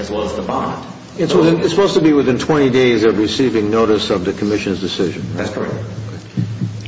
It's supposed to be within 20 days of receiving notice of the Commission's decision. That's correct.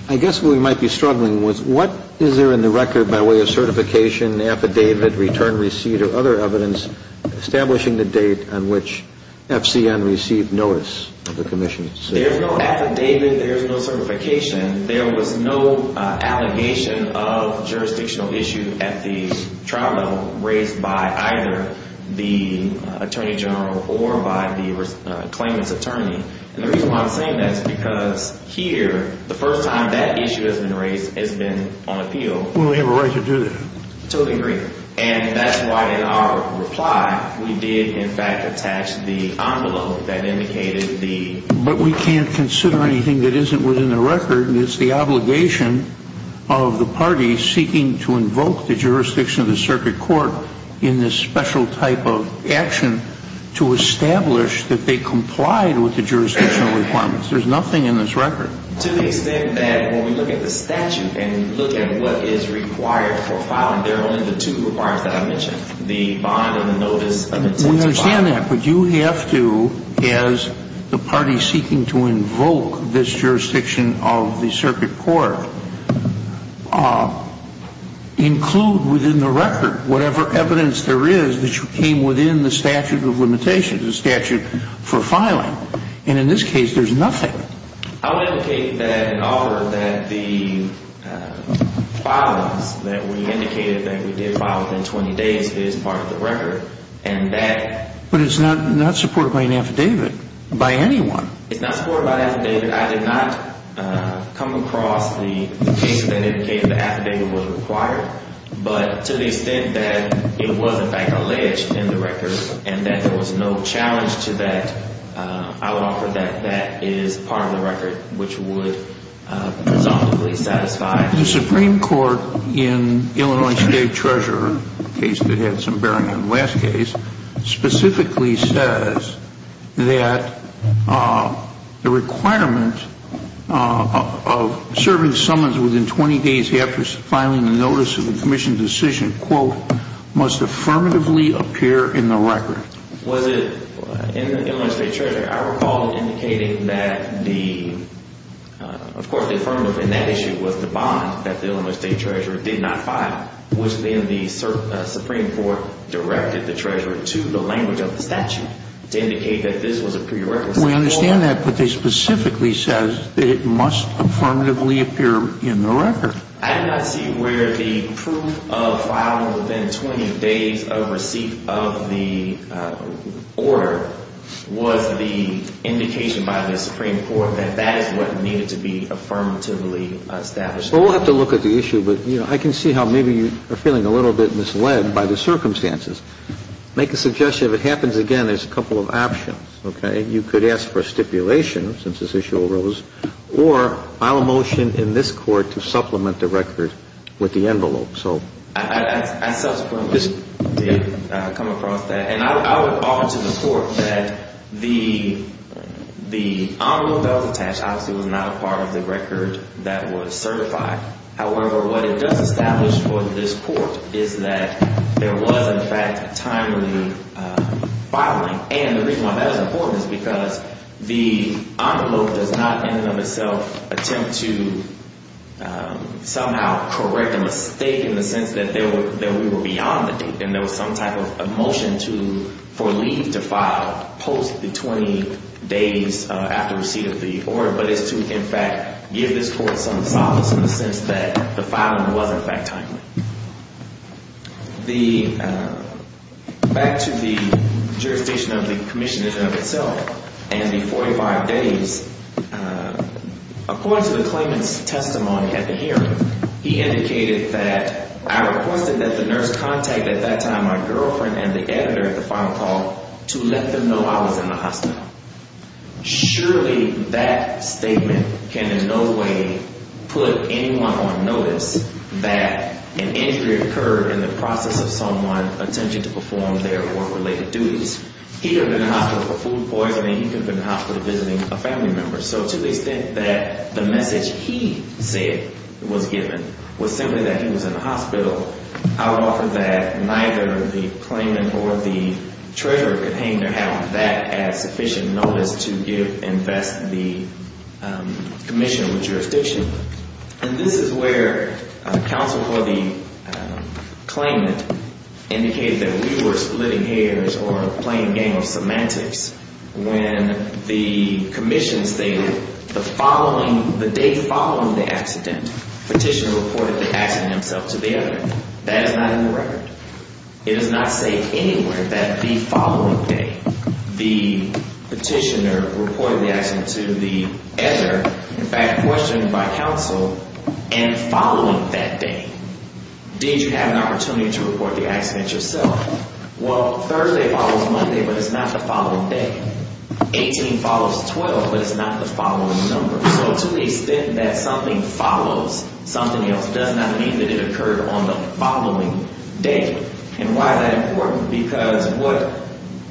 I guess what we might be struggling with, what is there in the record by way of certification, affidavit, return receipt, or other evidence establishing the date on which FCN received notice of the Commission's decision? There's no affidavit. There's no certification. There's no certification of jurisdictional issue at the trial level raised by either the Attorney General or by the claimant's attorney. And the reason why I'm saying that is because here, the first time that issue has been raised, it's been on appeal. Well, we have a right to do that. Totally agree. And that's why in our reply, we did, in fact, attach the envelope that indicated the… But we can't consider anything that isn't within the record. It's the obligation of the party seeking to invoke the jurisdiction of the circuit court in this special type of action to establish that they complied with the jurisdictional requirements. There's nothing in this record. To the extent that when we look at the statute and we look at what is required for filing, there are only the two requirements that I mentioned, the bond and the notice of intent to file. We understand that, but you have to, as the party seeking to invoke this jurisdiction of the circuit court, include within the record whatever evidence there is that you came within the statute of limitations, the statute for filing. And in this case, there's nothing. I would indicate that in order that the filings that we indicated that we did file within 20 days is part of the record and that… But it's not supported by an affidavit by anyone. It's not supported by an affidavit. I did not come across the case that indicated the affidavit was required, but to the extent that it was, in fact, alleged in the record and that there was no challenge to that, I would offer that that is part of the record, which would presumptively satisfy… The Supreme Court in Illinois State Treasurer, a case that had some bearing on the last case, specifically says that the requirement of serving summons within 20 days after filing a notice of a commission decision, quote, must affirmatively appear in the record. I recall indicating that the… Of course, the affirmative in that issue was the bond that the Illinois State Treasurer did not file, which then the Supreme Court directed the Treasurer to the language of the statute to indicate that this was a prerequisite. We understand that, but it specifically says that it must affirmatively appear in the record. I did not see where the proof of filing within 20 days of receipt of the order was the indication by the Supreme Court that that is what needed to be affirmatively established. Well, we'll have to look at the issue, but, you know, I can see how maybe you are feeling a little bit misled by the circumstances. Make a suggestion. If it happens again, there's a couple of options, okay? You could ask for stipulation, since this issue arose, or file a motion in this Court to supplement the record with the envelope. So… I subsequently did come across that. And I would offer to the Court that the envelope that was attached obviously was not a part of the record that was certified. However, what it does establish for this Court is that there was, in fact, a timely filing. And the reason why that is important is because the envelope does not in and of itself attempt to somehow correct a mistake in the sense that we were beyond the date and there was some type of motion for leave to file post the 20 days after receipt of the order. But it's to, in fact, give this Court some solace in the sense that the filing was, in fact, timely. The – back to the jurisdiction of the commission in and of itself and the 45 days, according to the claimant's testimony at the hearing, he indicated that I requested that the nurse contact at that time my girlfriend and the editor at the final call to let them know I was in the hospital. Surely that statement can in no way put anyone on notice that an injury occurred in the process of someone attempting to perform their work-related duties. He could have been in the hospital for food poisoning. He could have been in the hospital visiting a family member. So to the extent that the message he said was given was simply that he was in the hospital, I would offer that neither the claimant nor the treasurer could hang their hat on that as sufficient notice to give – invest the commission with jurisdiction. And this is where counsel for the claimant indicated that we were splitting hairs or playing a game of semantics when the commission stated the following – the day following the accident, petitioner reported the accident himself to the editor. That is not in the record. It is not safe anywhere that the following day the petitioner reported the accident to the editor, in fact questioned by counsel, and following that day. Did you have an opportunity to report the accident yourself? Well, Thursday follows Monday, but it's not the following day. Eighteen follows twelve, but it's not the following number. So to the extent that something follows something else does not mean that it occurred on the following day. And why is that important? Because what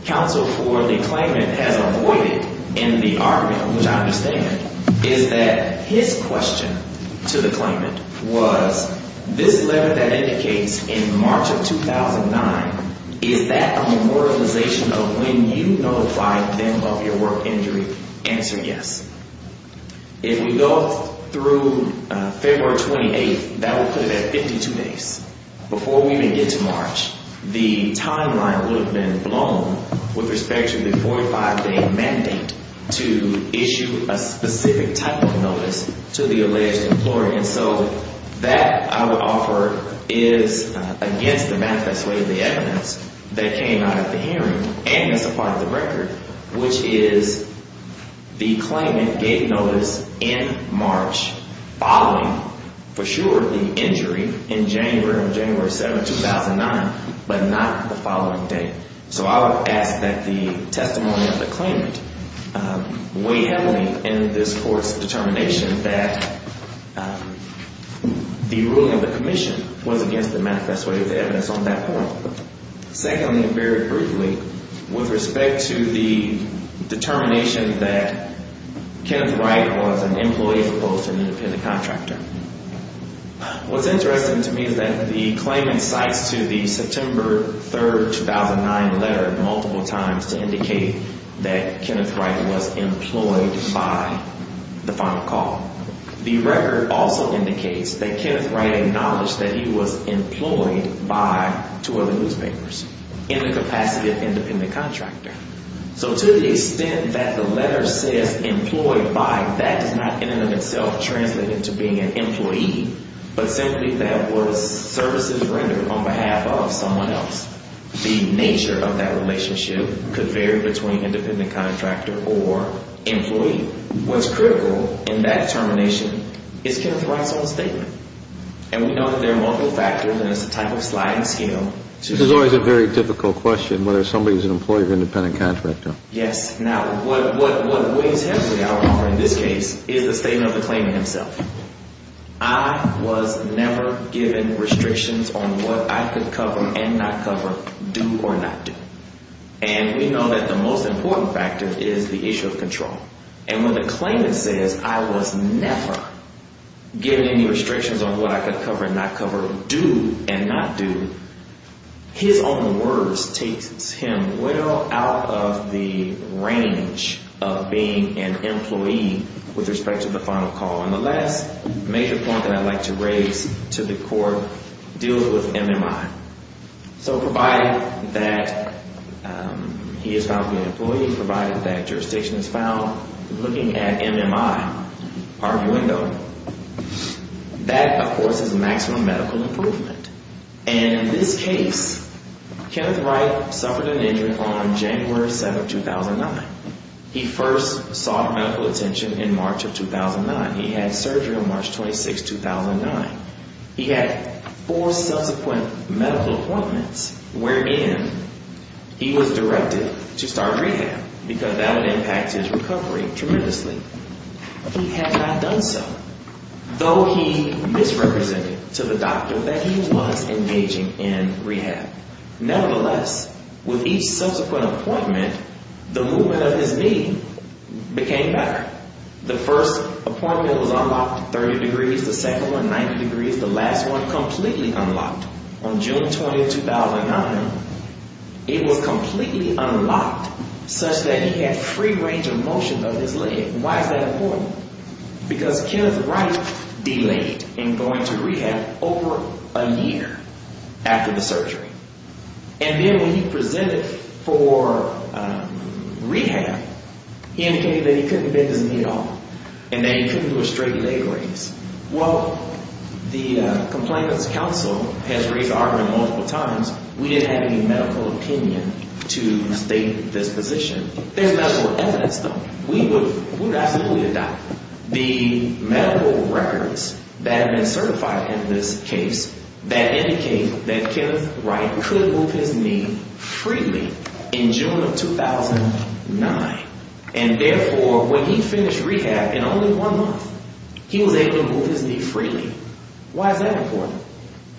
counsel for the claimant has avoided in the argument, which I understand, is that his question to the claimant was, this letter that indicates in March of 2009, is that a memorialization of when you notified them of your work injury? Answer yes. If we go through February 28th, that would put it at 52 days. Before we even get to March, the timeline would have been blown with respect to the 45-day mandate to issue a specific type of notice to the alleged employer. And so that, I would offer, is against the manifest way of the evidence that came out of the hearing and as a part of the record, which is the claimant gave notice in March following, for sure, the injury in January or January 7th, 2009, but not the following day. So I would ask that the testimony of the claimant weigh heavily in this court's determination that the ruling of the commission was against the manifest way of the evidence on that point. Secondly, and very briefly, with respect to the determination that Kenneth Wright was an employee as opposed to an independent contractor, what's interesting to me is that the claimant cites to the September 3rd, 2009 letter multiple times to indicate that Kenneth Wright was employed by the final call. The record also indicates that Kenneth Wright acknowledged that he was employed by two other newspapers in the capacity of independent contractor. So to the extent that the letter says employed by, that does not in and of itself translate into being an employee, but simply that was services rendered on behalf of someone else. The nature of that relationship could vary between independent contractor or employee. What's critical in that determination is Kenneth Wright's own statement, and we know that there are multiple factors and it's a type of sliding scale to There's always a very difficult question whether somebody is an employee or independent contractor. Yes. Now, what weighs heavily in this case is the statement of the claimant himself. I was never given restrictions on what I could cover and not cover, do or not do. And we know that the most important factor is the issue of control. And when the claimant says I was never given any restrictions on what I could cover and not cover, do and not do, his own words takes him well out of the range of being an employee with respect to the final call. And the last major point that I'd like to raise to the court deals with MMI. So provided that he is found to be an employee, provided that jurisdiction is found, looking at MMI, arguendo, that, of course, is maximum medical improvement. And in this case, Kenneth Wright suffered an injury on January 7, 2009. He first sought medical attention in March of 2009. He had surgery on March 26, 2009. He had four subsequent medical appointments wherein he was directed to start rehab because that would impact his recovery tremendously. He had not done so, though he misrepresented to the doctor that he was engaging in rehab. Nevertheless, with each subsequent appointment, the movement of his knee became better. The first appointment was unlocked at 30 degrees. The second one, 90 degrees. The last one, completely unlocked. On June 20, 2009, it was completely unlocked such that he had free range of motion of his leg. Why is that important? Because Kenneth Wright delayed in going to rehab over a year after the surgery. And then when he presented for rehab, he indicated that he couldn't bend his knee at all and that he couldn't do a straight leg raise. Well, the Complainants Council has raised the argument multiple times. We didn't have any medical opinion to state this position. There's medical evidence, though. We would absolutely adopt it. The medical records that have been certified in this case that indicate that Kenneth Wright could move his knee freely in June of 2009. And, therefore, when he finished rehab in only one month, he was able to move his knee freely. Why is that important?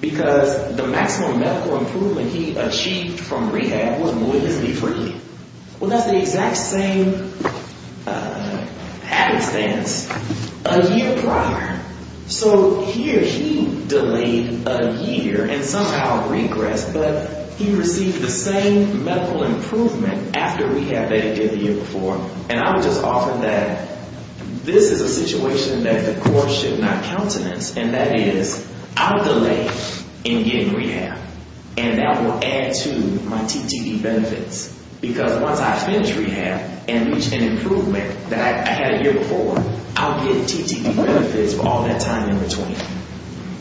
Because the maximum medical improvement he achieved from rehab was moving his knee freely. Well, that's the exact same happenstance a year prior. So, here he delayed a year and somehow regressed, but he received the same medical improvement after rehab that he did the year before. And I would just offer that this is a situation that the court should not countenance. And that is, I'll delay in getting rehab. And that will add to my TTE benefits. Because once I finish rehab and reach an improvement that I had a year before, I'll get TTE benefits for all that time in between.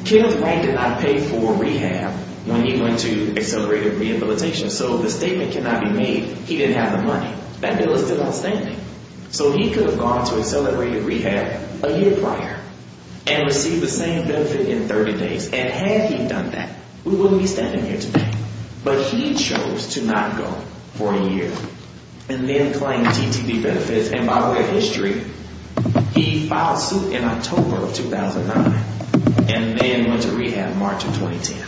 Kenneth Wright did not pay for rehab when he went to accelerated rehabilitation. So, the statement cannot be made he didn't have the money. That bill is still outstanding. So, he could have gone to accelerated rehab a year prior and received the same benefit in 30 days. And had he done that, we wouldn't be standing here today. But he chose to not go for a year and then claim TTE benefits. And by way of history, he filed suit in October of 2009 and then went to rehab March of 2010.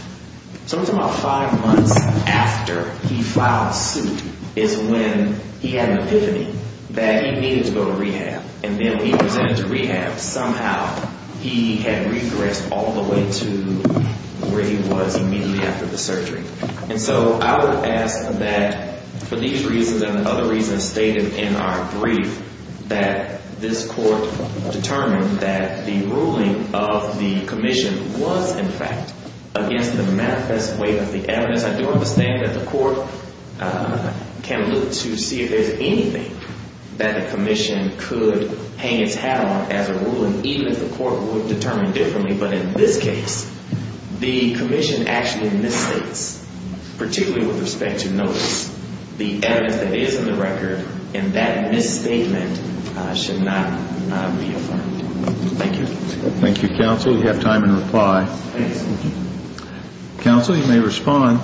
So, it was about five months after he filed suit is when he had an epiphany that he needed to go to rehab. And then he presented to rehab. Somehow, he had regressed all the way to where he was immediately after the surgery. And so, I would ask that for these reasons and other reasons stated in our brief that this court determined that the ruling of the commission was, in fact, against the manifest way of the evidence. Because I do understand that the court can look to see if there's anything that the commission could hang its hat on as a ruling, even if the court would determine differently. But in this case, the commission actually misstates, particularly with respect to notice, the evidence that is in the record. And that misstatement should not be affirmed. Thank you. Thank you, counsel. You have time to reply. Thank you. Counsel, you may respond.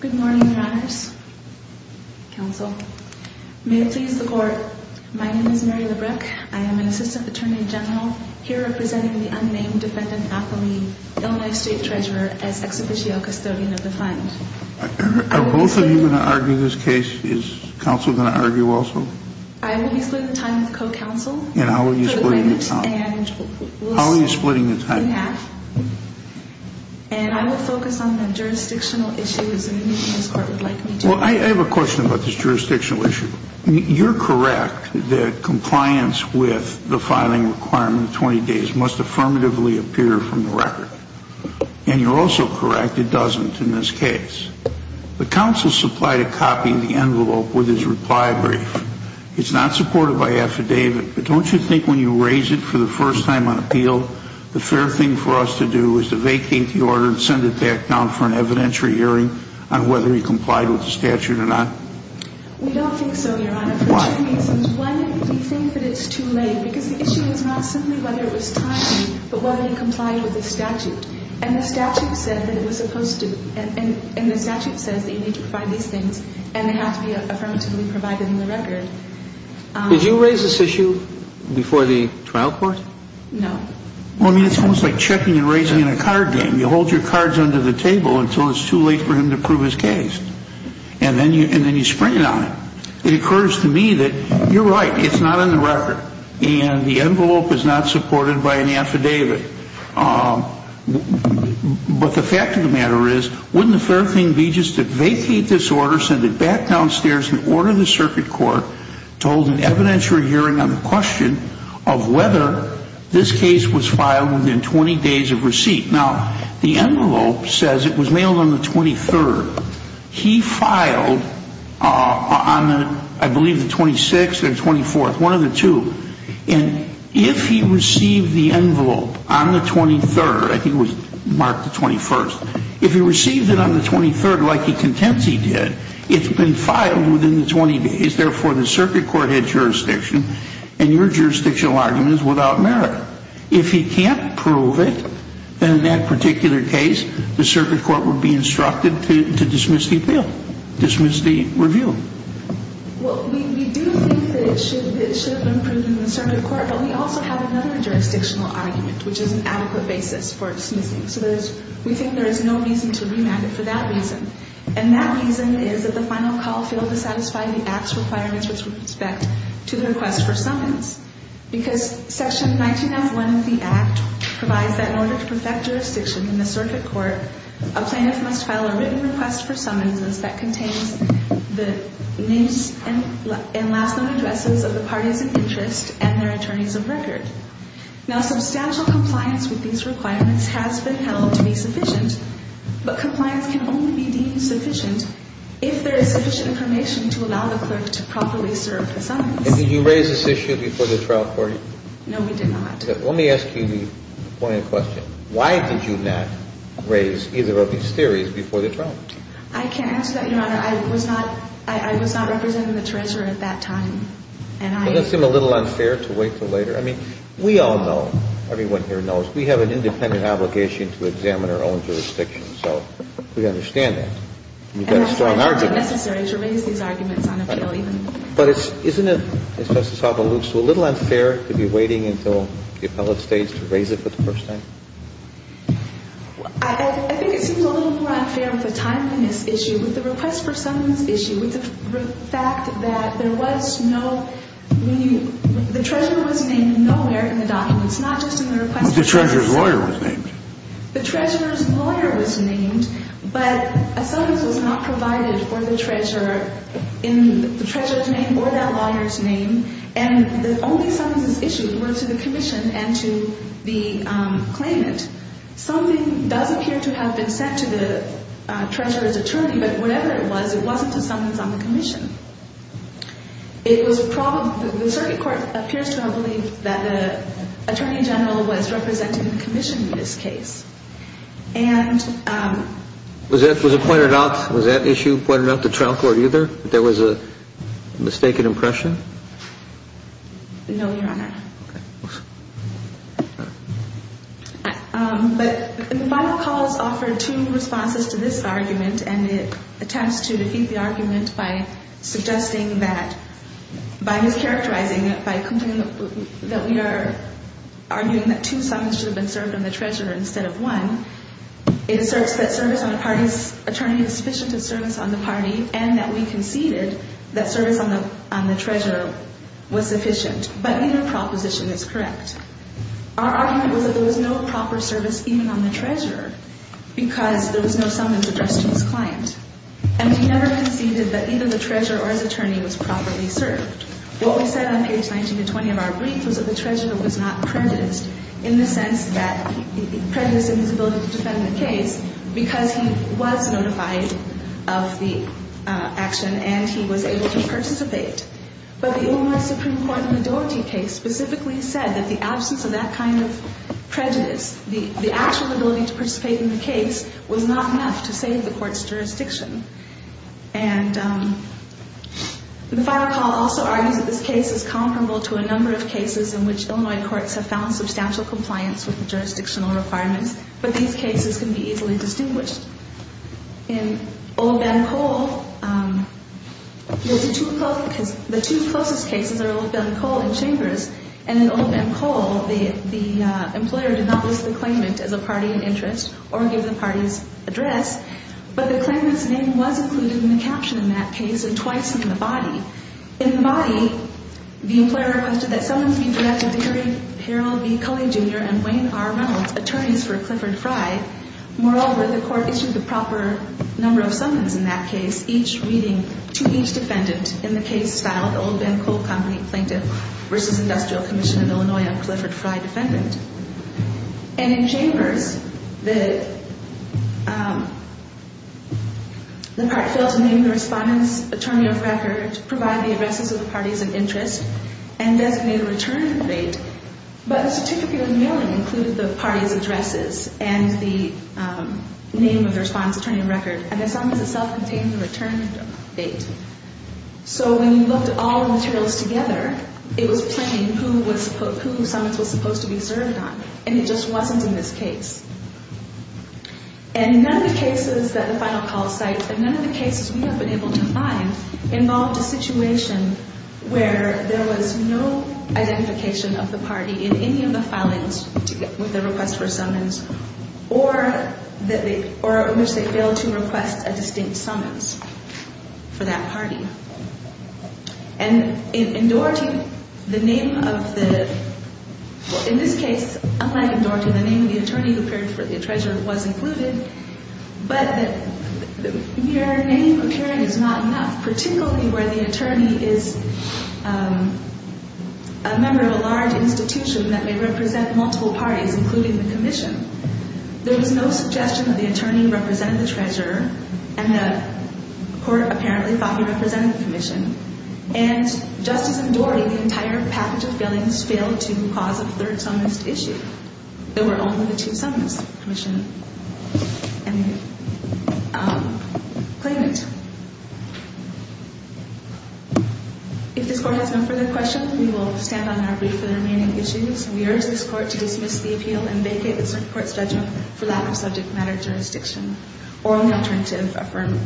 Good morning, Your Honors. Counsel. May it please the court. My name is Mary Labreck. I am an assistant attorney general here representing the unnamed defendant affiliate, Illinois State Treasurer, as ex officio custodian of the fund. Are both of you going to argue this case? Is counsel going to argue also? I will be splitting time with co-counsel. And how are you splitting the time? How are you splitting the time? In half. And I will focus on the jurisdictional issues that this court would like me to. Well, I have a question about this jurisdictional issue. You're correct that compliance with the filing requirement of 20 days must affirmatively appear from the record. And you're also correct it doesn't in this case. The counsel supplied a copy of the envelope with his reply brief. It's not supported by affidavit, but don't you think when you raise it for the first time on appeal, the fair thing for us to do is to vacate the order and send it back down for an evidentiary hearing on whether he complied with the statute or not? We don't think so, Your Honor. Why? One, we think that it's too late. Because the issue is not simply whether it was timely, but whether he complied with the statute. And the statute said that it was supposed to, and the statute says that you need to provide these things, and they have to be affirmatively provided in the record. Did you raise this issue before the trial court? No. Well, I mean, it's almost like checking and raising in a card game. You hold your cards under the table until it's too late for him to prove his case. And then you spring it on him. It occurs to me that you're right, it's not in the record, and the envelope is not supported by an affidavit. But the fact of the matter is, wouldn't the fair thing be just to vacate this order, send it back downstairs, and order the circuit court to hold an evidentiary hearing on the question of whether this case was filed within 20 days of receipt? Now, the envelope says it was mailed on the 23rd. He filed on, I believe, the 26th or 24th, one of the two. And if he received the envelope on the 23rd, I think it was marked the 21st, if he received it on the 23rd like he contends he did, it's been filed within the 20 days. Therefore, the circuit court had jurisdiction, and your jurisdictional argument is without merit. If he can't prove it, then in that particular case, the circuit court would be instructed to dismiss the appeal, dismiss the review. Well, we do think that it should have been proven in the circuit court, but we also have another jurisdictional argument, which is an adequate basis for dismissing. So we think there is no reason to remand it for that reason. And that reason is that the final call failed to satisfy the Act's requirements with respect to the request for summons, because Section 19F1 of the Act provides that in order to perfect jurisdiction in the circuit court, a plaintiff must file a written request for summons that contains the names and last known addresses of the parties of interest and their attorneys of record. Now, substantial compliance with these requirements has been held to be sufficient, but compliance can only be deemed sufficient if there is sufficient information to allow the clerk to properly serve the summons. And did you raise this issue before the trial court? No, we did not. Let me ask you the point of the question. Why did you not raise either of these theories before the trial? I can't answer that, Your Honor. I was not representing the treasurer at that time. Doesn't it seem a little unfair to wait until later? I mean, we all know, everyone here knows, we have an independent obligation to examine our own jurisdiction. So we understand that. And you've got a strong argument. And I think it's unnecessary to raise these arguments on appeal even. But isn't it, Justice Alba, a little unfair to be waiting until the appellate stays to raise it for the first time? I think it seems a little more unfair with the timeliness issue, with the request for summons issue, with the fact that there was no – the treasurer was named nowhere in the documents, not just in the request. But the treasurer's lawyer was named. The treasurer's lawyer was named, but a summons was not provided for the treasurer in the treasurer's name or that lawyer's name. And the only summonses issued were to the commission and to the claimant. Something does appear to have been sent to the treasurer's attorney, but whatever it was, it wasn't a summons on the commission. It was – the circuit court appears to have believed that the attorney general was represented in commission in this case. And – Was it pointed out – was that issue pointed out to trial court either, that there was a mistaken impression? No, Your Honor. Okay. But the final calls offered two responses to this argument, and it attempts to defeat the argument by suggesting that – by mischaracterizing it, that we are arguing that two summons should have been served on the treasurer instead of one. It asserts that service on the party's attorney is sufficient in service on the party and that we conceded that service on the treasurer was sufficient. But either proposition is correct. Our argument was that there was no proper service even on the treasurer because there was no summons addressed to his client. And we never conceded that either the treasurer or his attorney was properly served. What we said on page 19 to 20 of our brief was that the treasurer was not prejudiced in the sense that – prejudiced in his ability to defend the case because he was notified of the action and he was able to participate. But the Illinois Supreme Court in the Doherty case specifically said that the absence of that kind of prejudice, the actual ability to participate in the case, was not enough to save the court's jurisdiction. And the final call also argues that this case is comparable to a number of cases in which Illinois courts have found substantial compliance with the jurisdictional requirements, but these cases can be easily distinguished. In Old Ben Cole, the two closest cases are Old Ben Cole and Chambers. And in Old Ben Cole, the employer did not list the claimant as a party in interest or give the party's address, but the claimant's name was included in the caption in that case and twice in the body. In the body, the employer requested that summons be directed to Harry Harrell B. Culley Jr. and Wayne R. Reynolds, attorneys for Clifford Fry. Moreover, the court issued the proper number of summons in that case, each reading to each defendant in the case filed, Old Ben Cole Company Plaintiff versus Industrial Commission of Illinois on Clifford Fry Defendant. And in Chambers, the part failed to name the respondent's attorney of record, provide the addresses of the parties in interest, and designate a return date, but the certificate of mailing included the party's addresses and the name of the respondent's attorney of record, and the summons itself contained the return date. So when you looked at all the materials together, it was plain who summons was supposed to be served on, and it just wasn't in this case. And none of the cases that the final call cites, and none of the cases we have been able to find, involved a situation where there was no identification of the party in any of the filings with the request for summons or in which they failed to request a distinct summons for that party. And in Doherty, the name of the, in this case, unlike in Doherty, the name of the attorney who appeared for the treasurer was included, but your name appearing is not enough, particularly where the attorney is a member of a large institution that may represent multiple parties, including the commission. There was no suggestion that the attorney represented the treasurer, and the court apparently thought he represented the commission. And just as in Doherty, the entire package of filings failed to cause a third summons to issue. There were only the two summons, commission and claimant. If this court has no further questions, we will stand on our brief for the remaining issues. We urge this court to dismiss the appeal and vacate this court's judgment for lack of subject matter jurisdiction or on the alternative, affirm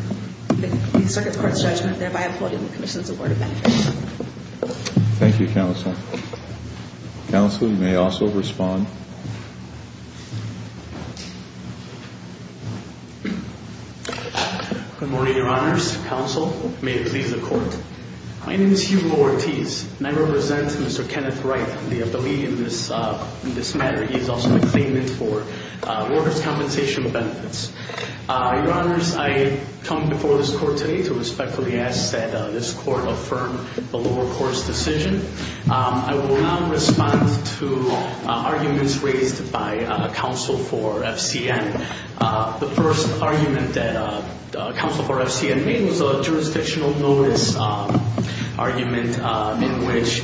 the circuit court's judgment, thereby upholding the commission's award of benefits. Thank you, counsel. Counsel, you may also respond. Good morning, Your Honors. Counsel, may it please the Court. My name is Hugh Lortiz, and I represent Mr. Kenneth Wright, the affiliate in this matter. He is also a claimant for workers' compensation benefits. Your Honors, I come before this court today to respectfully ask that this court affirm the lower court's decision. I will now respond to arguments raised by counsel for FCN. The first argument that counsel for FCN made was a jurisdictional notice argument in which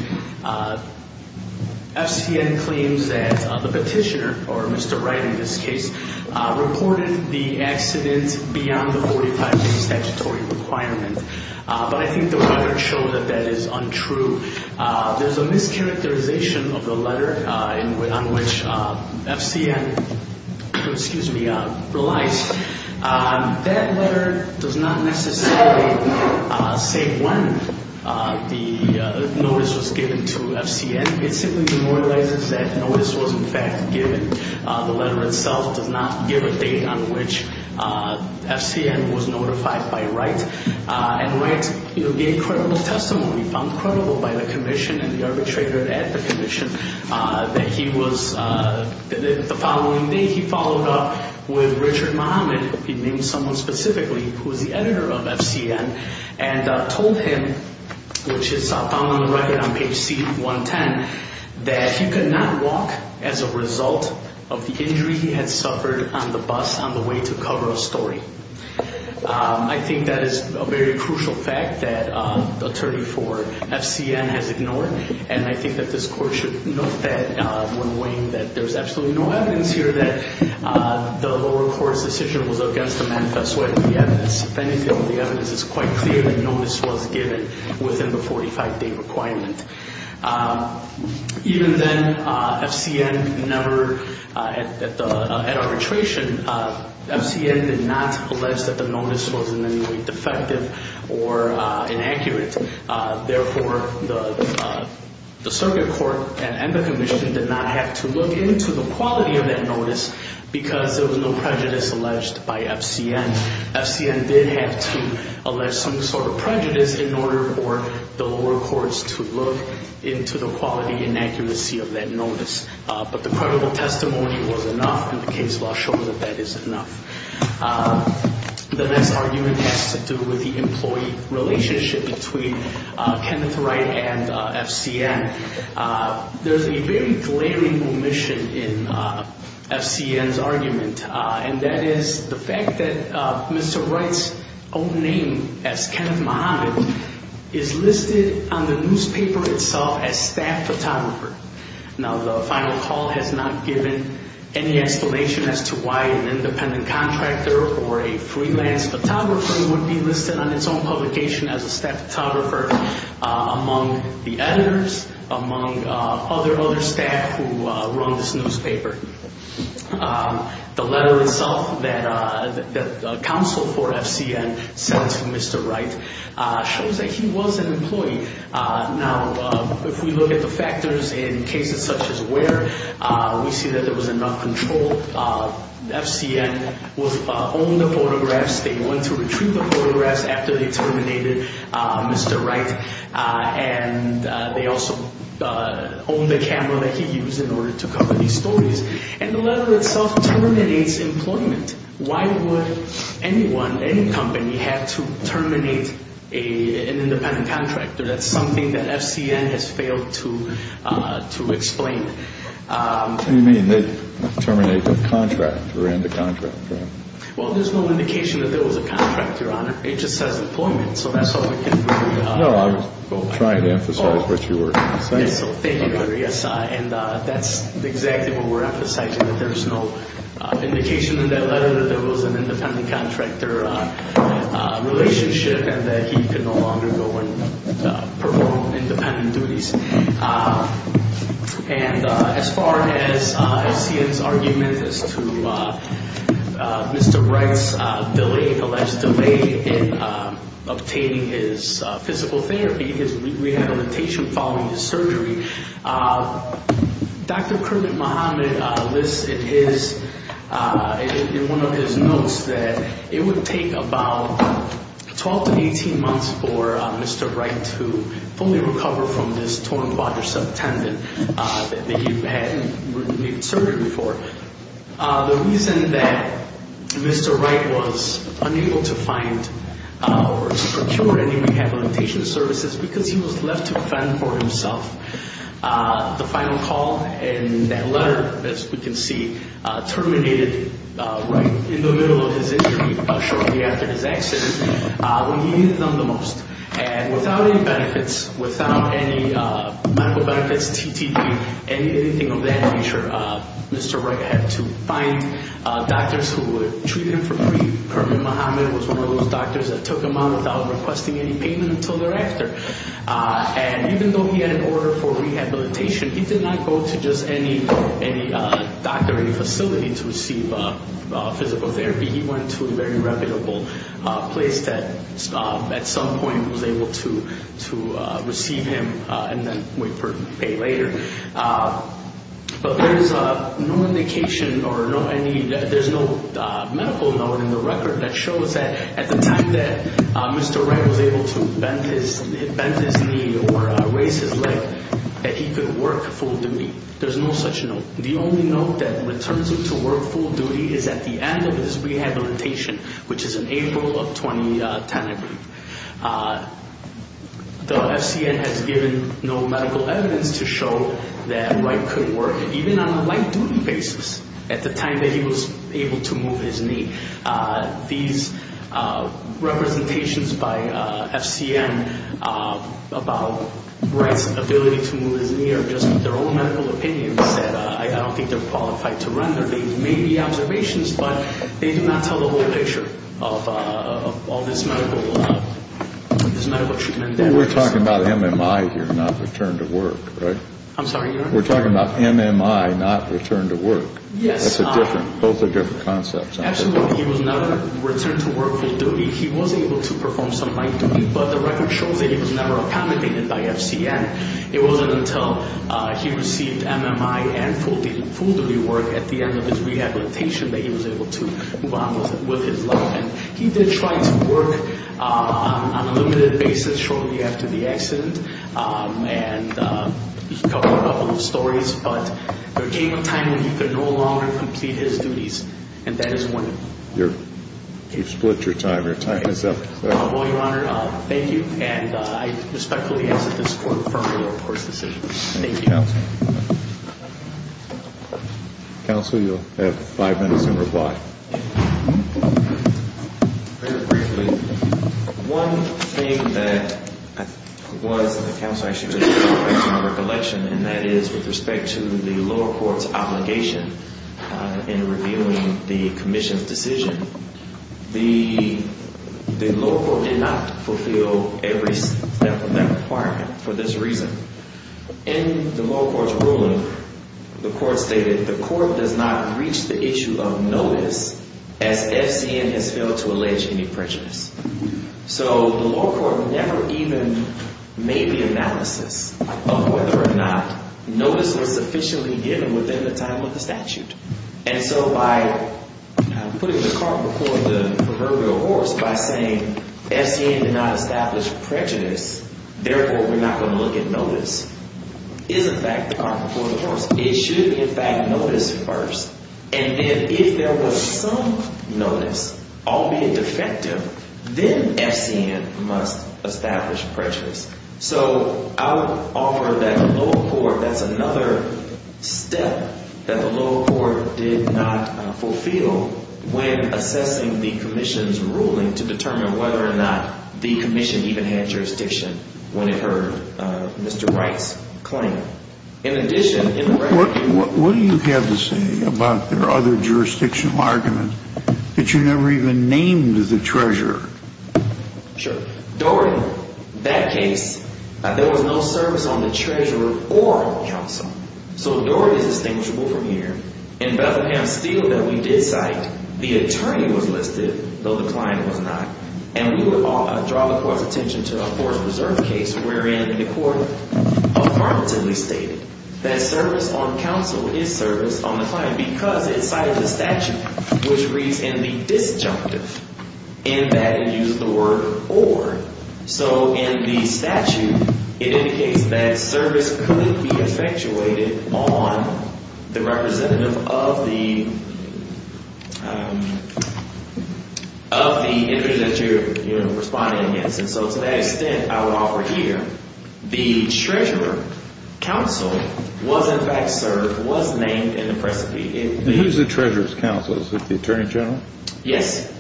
FCN claims that the petitioner, or Mr. Wright in this case, reported the accident beyond the 45-day statutory requirement. But I think the letter showed that that is untrue. There's a mischaracterization of the letter on which FCN relies. That letter does not necessarily say when the notice was given to FCN. It simply demoralizes that notice was, in fact, given. The letter itself does not give a date on which FCN was notified by Wright. And Wright gave credible testimony, found credible by the commission and the arbitrator at the commission, that the following day he followed up with Richard Muhammad, he named someone specifically who was the editor of FCN, and told him, which is found on the record on page C110, that he could not walk as a result of the injury he had suffered on the bus on the way to cover a story. I think that is a very crucial fact that the attorney for FCN has ignored, and I think that this court should note that when weighing that there's absolutely no evidence here that the lower court's decision was against the manifest way of the evidence. If anything, the evidence is quite clear that notice was given within the 45-day requirement. Even then, FCN never, at arbitration, FCN did not allege that the notice was in any way defective or inaccurate. Therefore, the circuit court and the commission did not have to look into the quality of that notice because there was no prejudice alleged by FCN. FCN did have to allege some sort of prejudice in order for the lower courts to look into the quality and accuracy of that notice. But the credible testimony was enough, and the case law shows that that is enough. The next argument has to do with the employee relationship between Kenneth Wright and FCN. There's a very glaring omission in FCN's argument, and that is the fact that Mr. Wright's own name, as Kenneth Muhammad, is listed on the newspaper itself as staff photographer. Now, the final call has not given any explanation as to why an independent contractor or a freelance photographer would be listed on its own publication as a staff photographer among the editors, among other staff who run this newspaper. The letter itself that counsel for FCN sent to Mr. Wright shows that he was an employee. Now, if we look at the factors in cases such as where, we see that there was enough control. FCN owned the photographs. They went to retrieve the photographs after they terminated Mr. Wright, and they also owned the camera that he used in order to cover these stories. And the letter itself terminates employment. Why would anyone, any company, have to terminate an independent contractor? That's something that FCN has failed to explain. What do you mean, they terminate the contract or end the contract? Well, there's no indication that there was a contract, Your Honor. It just says employment, so that's all we can really go on. No, I was trying to emphasize what you were trying to say. Yes, so thank you, Larry. And that's exactly what we're emphasizing, that there's no indication in that letter that there was an independent contractor relationship and that he could no longer go and perform independent duties. And as far as FCN's argument as to Mr. Wright's alleged delay in obtaining his physical therapy, his rehabilitation following his surgery, Dr. Kermit Mohamed lists in one of his notes that it would take about 12 to 18 months for Mr. Wright to fully recover from this torn quadricep tendon that he had had surgery for. The reason that Mr. Wright was unable to find or to procure any rehabilitation services was because he was left to fend for himself. The final call in that letter, as we can see, terminated right in the middle of his injury shortly after his accident. He needed them the most. And without any benefits, without any medical benefits, TTP, anything of that nature, Mr. Wright had to find doctors who would treat him for free. Kermit Mohamed was one of those doctors that took him on without requesting any payment until thereafter. And even though he had an order for rehabilitation, he did not go to just any doctoring facility to receive physical therapy. He went to a very reputable place that at some point was able to receive him and then wait for pay later. But there is no indication or there's no medical note in the record that shows that at the time that Mr. Wright was able to bend his knee or raise his leg that he could work full duty. There's no such note. The only note that returns him to work full duty is at the end of his rehabilitation, which is in April of 2010, I believe. The FCN has given no medical evidence to show that Wright could work, even on a light duty basis, at the time that he was able to move his knee. These representations by FCN about Wright's ability to move his knee are just their own medical opinions that I don't think they're qualified to render. They may be observations, but they do not tell the whole picture of all this medical treatment. We're talking about MMI here, not return to work, right? I'm sorry? We're talking about MMI, not return to work. Yes. Both are different concepts. Absolutely. He was never returned to work full duty. He was able to perform some light duty, but the record shows that he was never accommodated by FCN. It wasn't until he received MMI and full duty work at the end of his rehabilitation that he was able to move on with his life. He did try to work on a limited basis shortly after the accident, and he covered a couple of stories, but there came a time when he could no longer complete his duties, and that is when. You've split your time. Your time is up. Well, Your Honor, thank you, and I respectfully ask that this Court confirm the lower court's decision. Thank you. Thank you, Counsel. Counsel, you'll have five minutes in reply. Very briefly, one thing that was in the Counsel's action was a reflection on recollection, and that is with respect to the lower court's obligation in reviewing the commission's decision. The lower court did not fulfill every step of that requirement for this reason. In the lower court's ruling, the court stated the court does not reach the issue of notice as FCN has failed to allege any prejudice. So the lower court never even made the analysis of whether or not notice was sufficiently given within the time of the statute, and so by putting the cart before the proverbial horse, by saying FCN did not establish prejudice, therefore we're not going to look at notice, is in fact the cart before the horse. It should be in fact notice first, and then if there was some notice, albeit defective, then FCN must establish prejudice. So I would offer that the lower court, that's another step that the lower court did not fulfill when assessing the commission's ruling to determine whether or not the commission even had jurisdiction when it heard Mr. Wright's claim. In addition, in the record. What do you have to say about their other jurisdictional argument that you never even named the treasurer? Sure. During that case, there was no service on the treasurer or on counsel. So during this distinguishable from here, in Bethlehem Steel that we did cite, the attorney was listed, though the client was not, and we would draw the court's attention to a forced reserve case wherein the court affirmatively stated that service on counsel is service on the client because it cited a statute which reads in the disjunctive, in that it used the word or. So in the statute, it indicates that service could be effectuated on the representative of the interest that you're responding against. And so to that extent, I would offer here, the treasurer counsel was in fact served, was named in the precipice. Who's the treasurer's counsel? Is it the attorney general? Yes.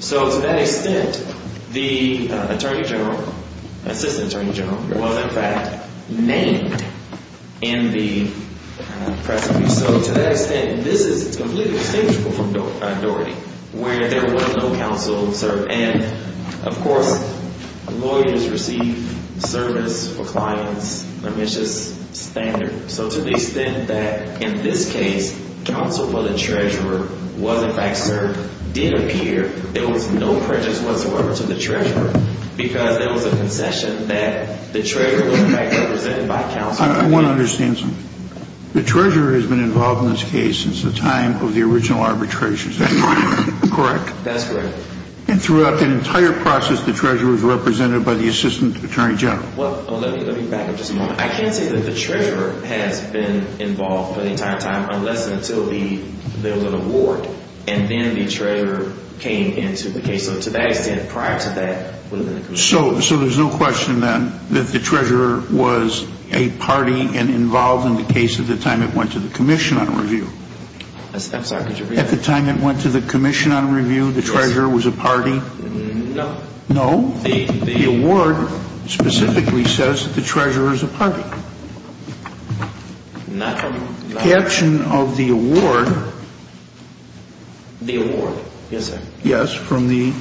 So to that extent, the attorney general, assistant attorney general, was in fact named in the precipice. So to that extent, this is completely distinguishable from Doherty, where there was no counsel served. And of course, lawyers receive service for clients. I mean, it's just standard. So to the extent that in this case, counsel for the treasurer was in fact served did appear. There was no prejudice whatsoever to the treasurer because there was a concession that the treasurer was in fact represented by counsel. I want to understand something. The treasurer has been involved in this case since the time of the original arbitration. Is that correct? That's correct. And throughout the entire process, the treasurer was represented by the assistant attorney general. Well, let me back up just a moment. I can't say that the treasurer has been involved for the entire time unless until there was an award and then the treasurer came into the case. So to that extent, prior to that, it would have been the commission. So there's no question then that the treasurer was a party and involved in the case at the time it went to the commission on review. I'm sorry, could you repeat that? At the time it went to the commission on review, the treasurer was a party? No. No? The award specifically says that the treasurer is a party. Not from the award. Caption of the award. The award. Yes, sir. Yes, from the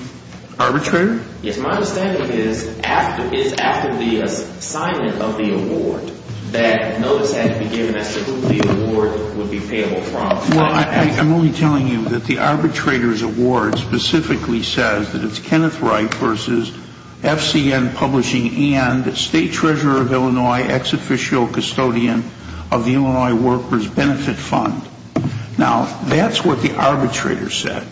arbitrator? Yes. My understanding is after the assignment of the award that notice had to be given as to who the award would be payable from. Well, I'm only telling you that the arbitrator's award specifically says that it's Kenneth Wright versus FCN Publishing and state treasurer of Illinois, ex-official custodian of the Illinois Workers Benefit Fund. Now, that's what the arbitrator said.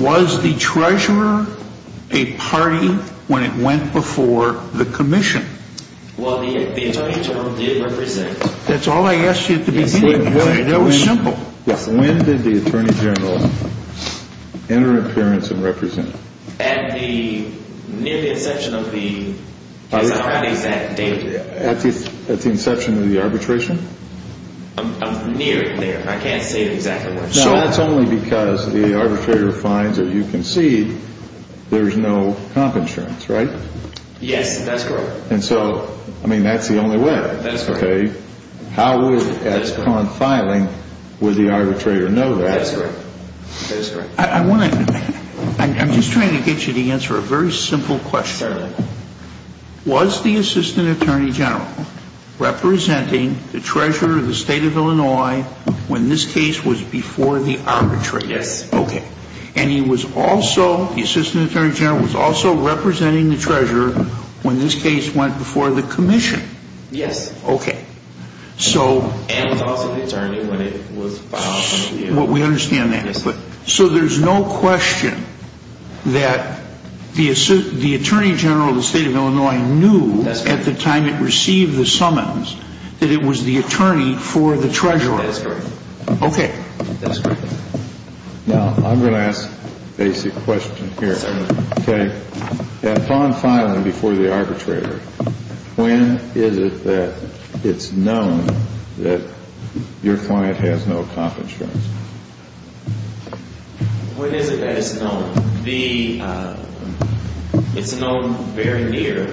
Was the treasurer a party when it went before the commission? Well, the attorney general did represent. That's all I asked you at the beginning. It was simple. When did the attorney general enter appearance and represent? At the near the inception of the case. At the exact date. At the inception of the arbitration? Near there. I can't say exactly when. No, that's only because the arbitrator finds, as you can see, there's no comp insurance, right? Yes, that's correct. And so, I mean, that's the only way. That's correct. Okay. How would, upon filing, would the arbitrator know that? That's correct. I'm just trying to get you to answer a very simple question. Certainly. Was the assistant attorney general representing the treasurer of the state of Illinois when this case was before the arbitration? Yes. Okay. And he was also, the assistant attorney general was also representing the treasurer when this case went before the commission? Yes. Okay. And he was also the attorney when it was filed. We understand that. Yes. So there's no question that the attorney general of the state of Illinois knew at the time it received the summons that it was the attorney for the treasurer? That's correct. Okay. That's correct. Now, I'm going to ask a basic question here. Yes, sir. Okay. Upon filing before the arbitrator, when is it that it's known that your client has no comp insurance? When is it that it's known? It's known very near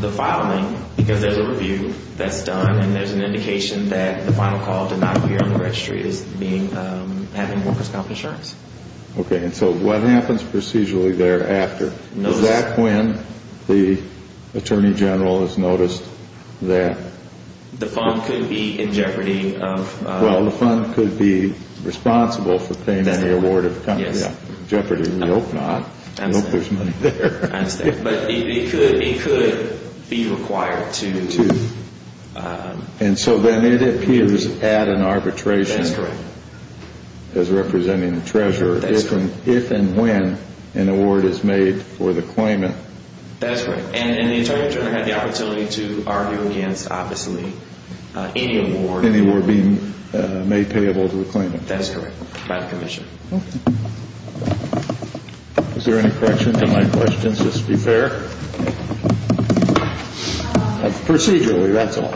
the filing because there's a review that's done, and there's an indication that the final call did not appear on the registry as having workers' comp insurance. Okay. And so what happens procedurally thereafter? Is that when the attorney general has noticed that? The fund could be in jeopardy of... Well, the fund could be responsible for paying any award of company. Yes. In jeopardy. We hope not. I hope there's money there. I understand. But it could be required to... And so then it appears at an arbitration. That's correct. As representing the treasurer. If and when an award is made for the claimant. That's correct. And the attorney general had the opportunity to argue against, obviously, any award... Any award being made payable to the claimant. That's correct, by the commission. Okay. Is there any correction to my questions, just to be fair? Procedurally, that's all.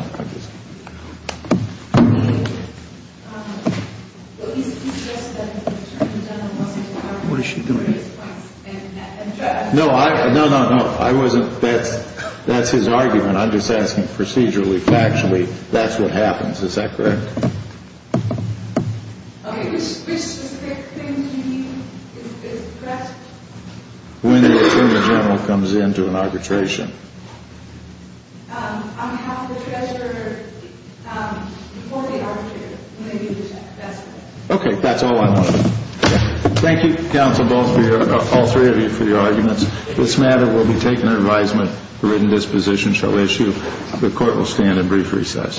What is she doing? No, no, no, no. I wasn't... That's his argument. I'm just asking procedurally, factually, that's what happens. Is that correct? Okay. Which specific thing do you mean is correct? When the attorney general comes into an arbitration. On behalf of the treasurer, before the arbitrator. Okay. That's all I know. Thank you, counsel, both of you, all three of you, for your arguments. This matter will be taken to advisement. The written disposition shall issue. The court will stand at brief recess.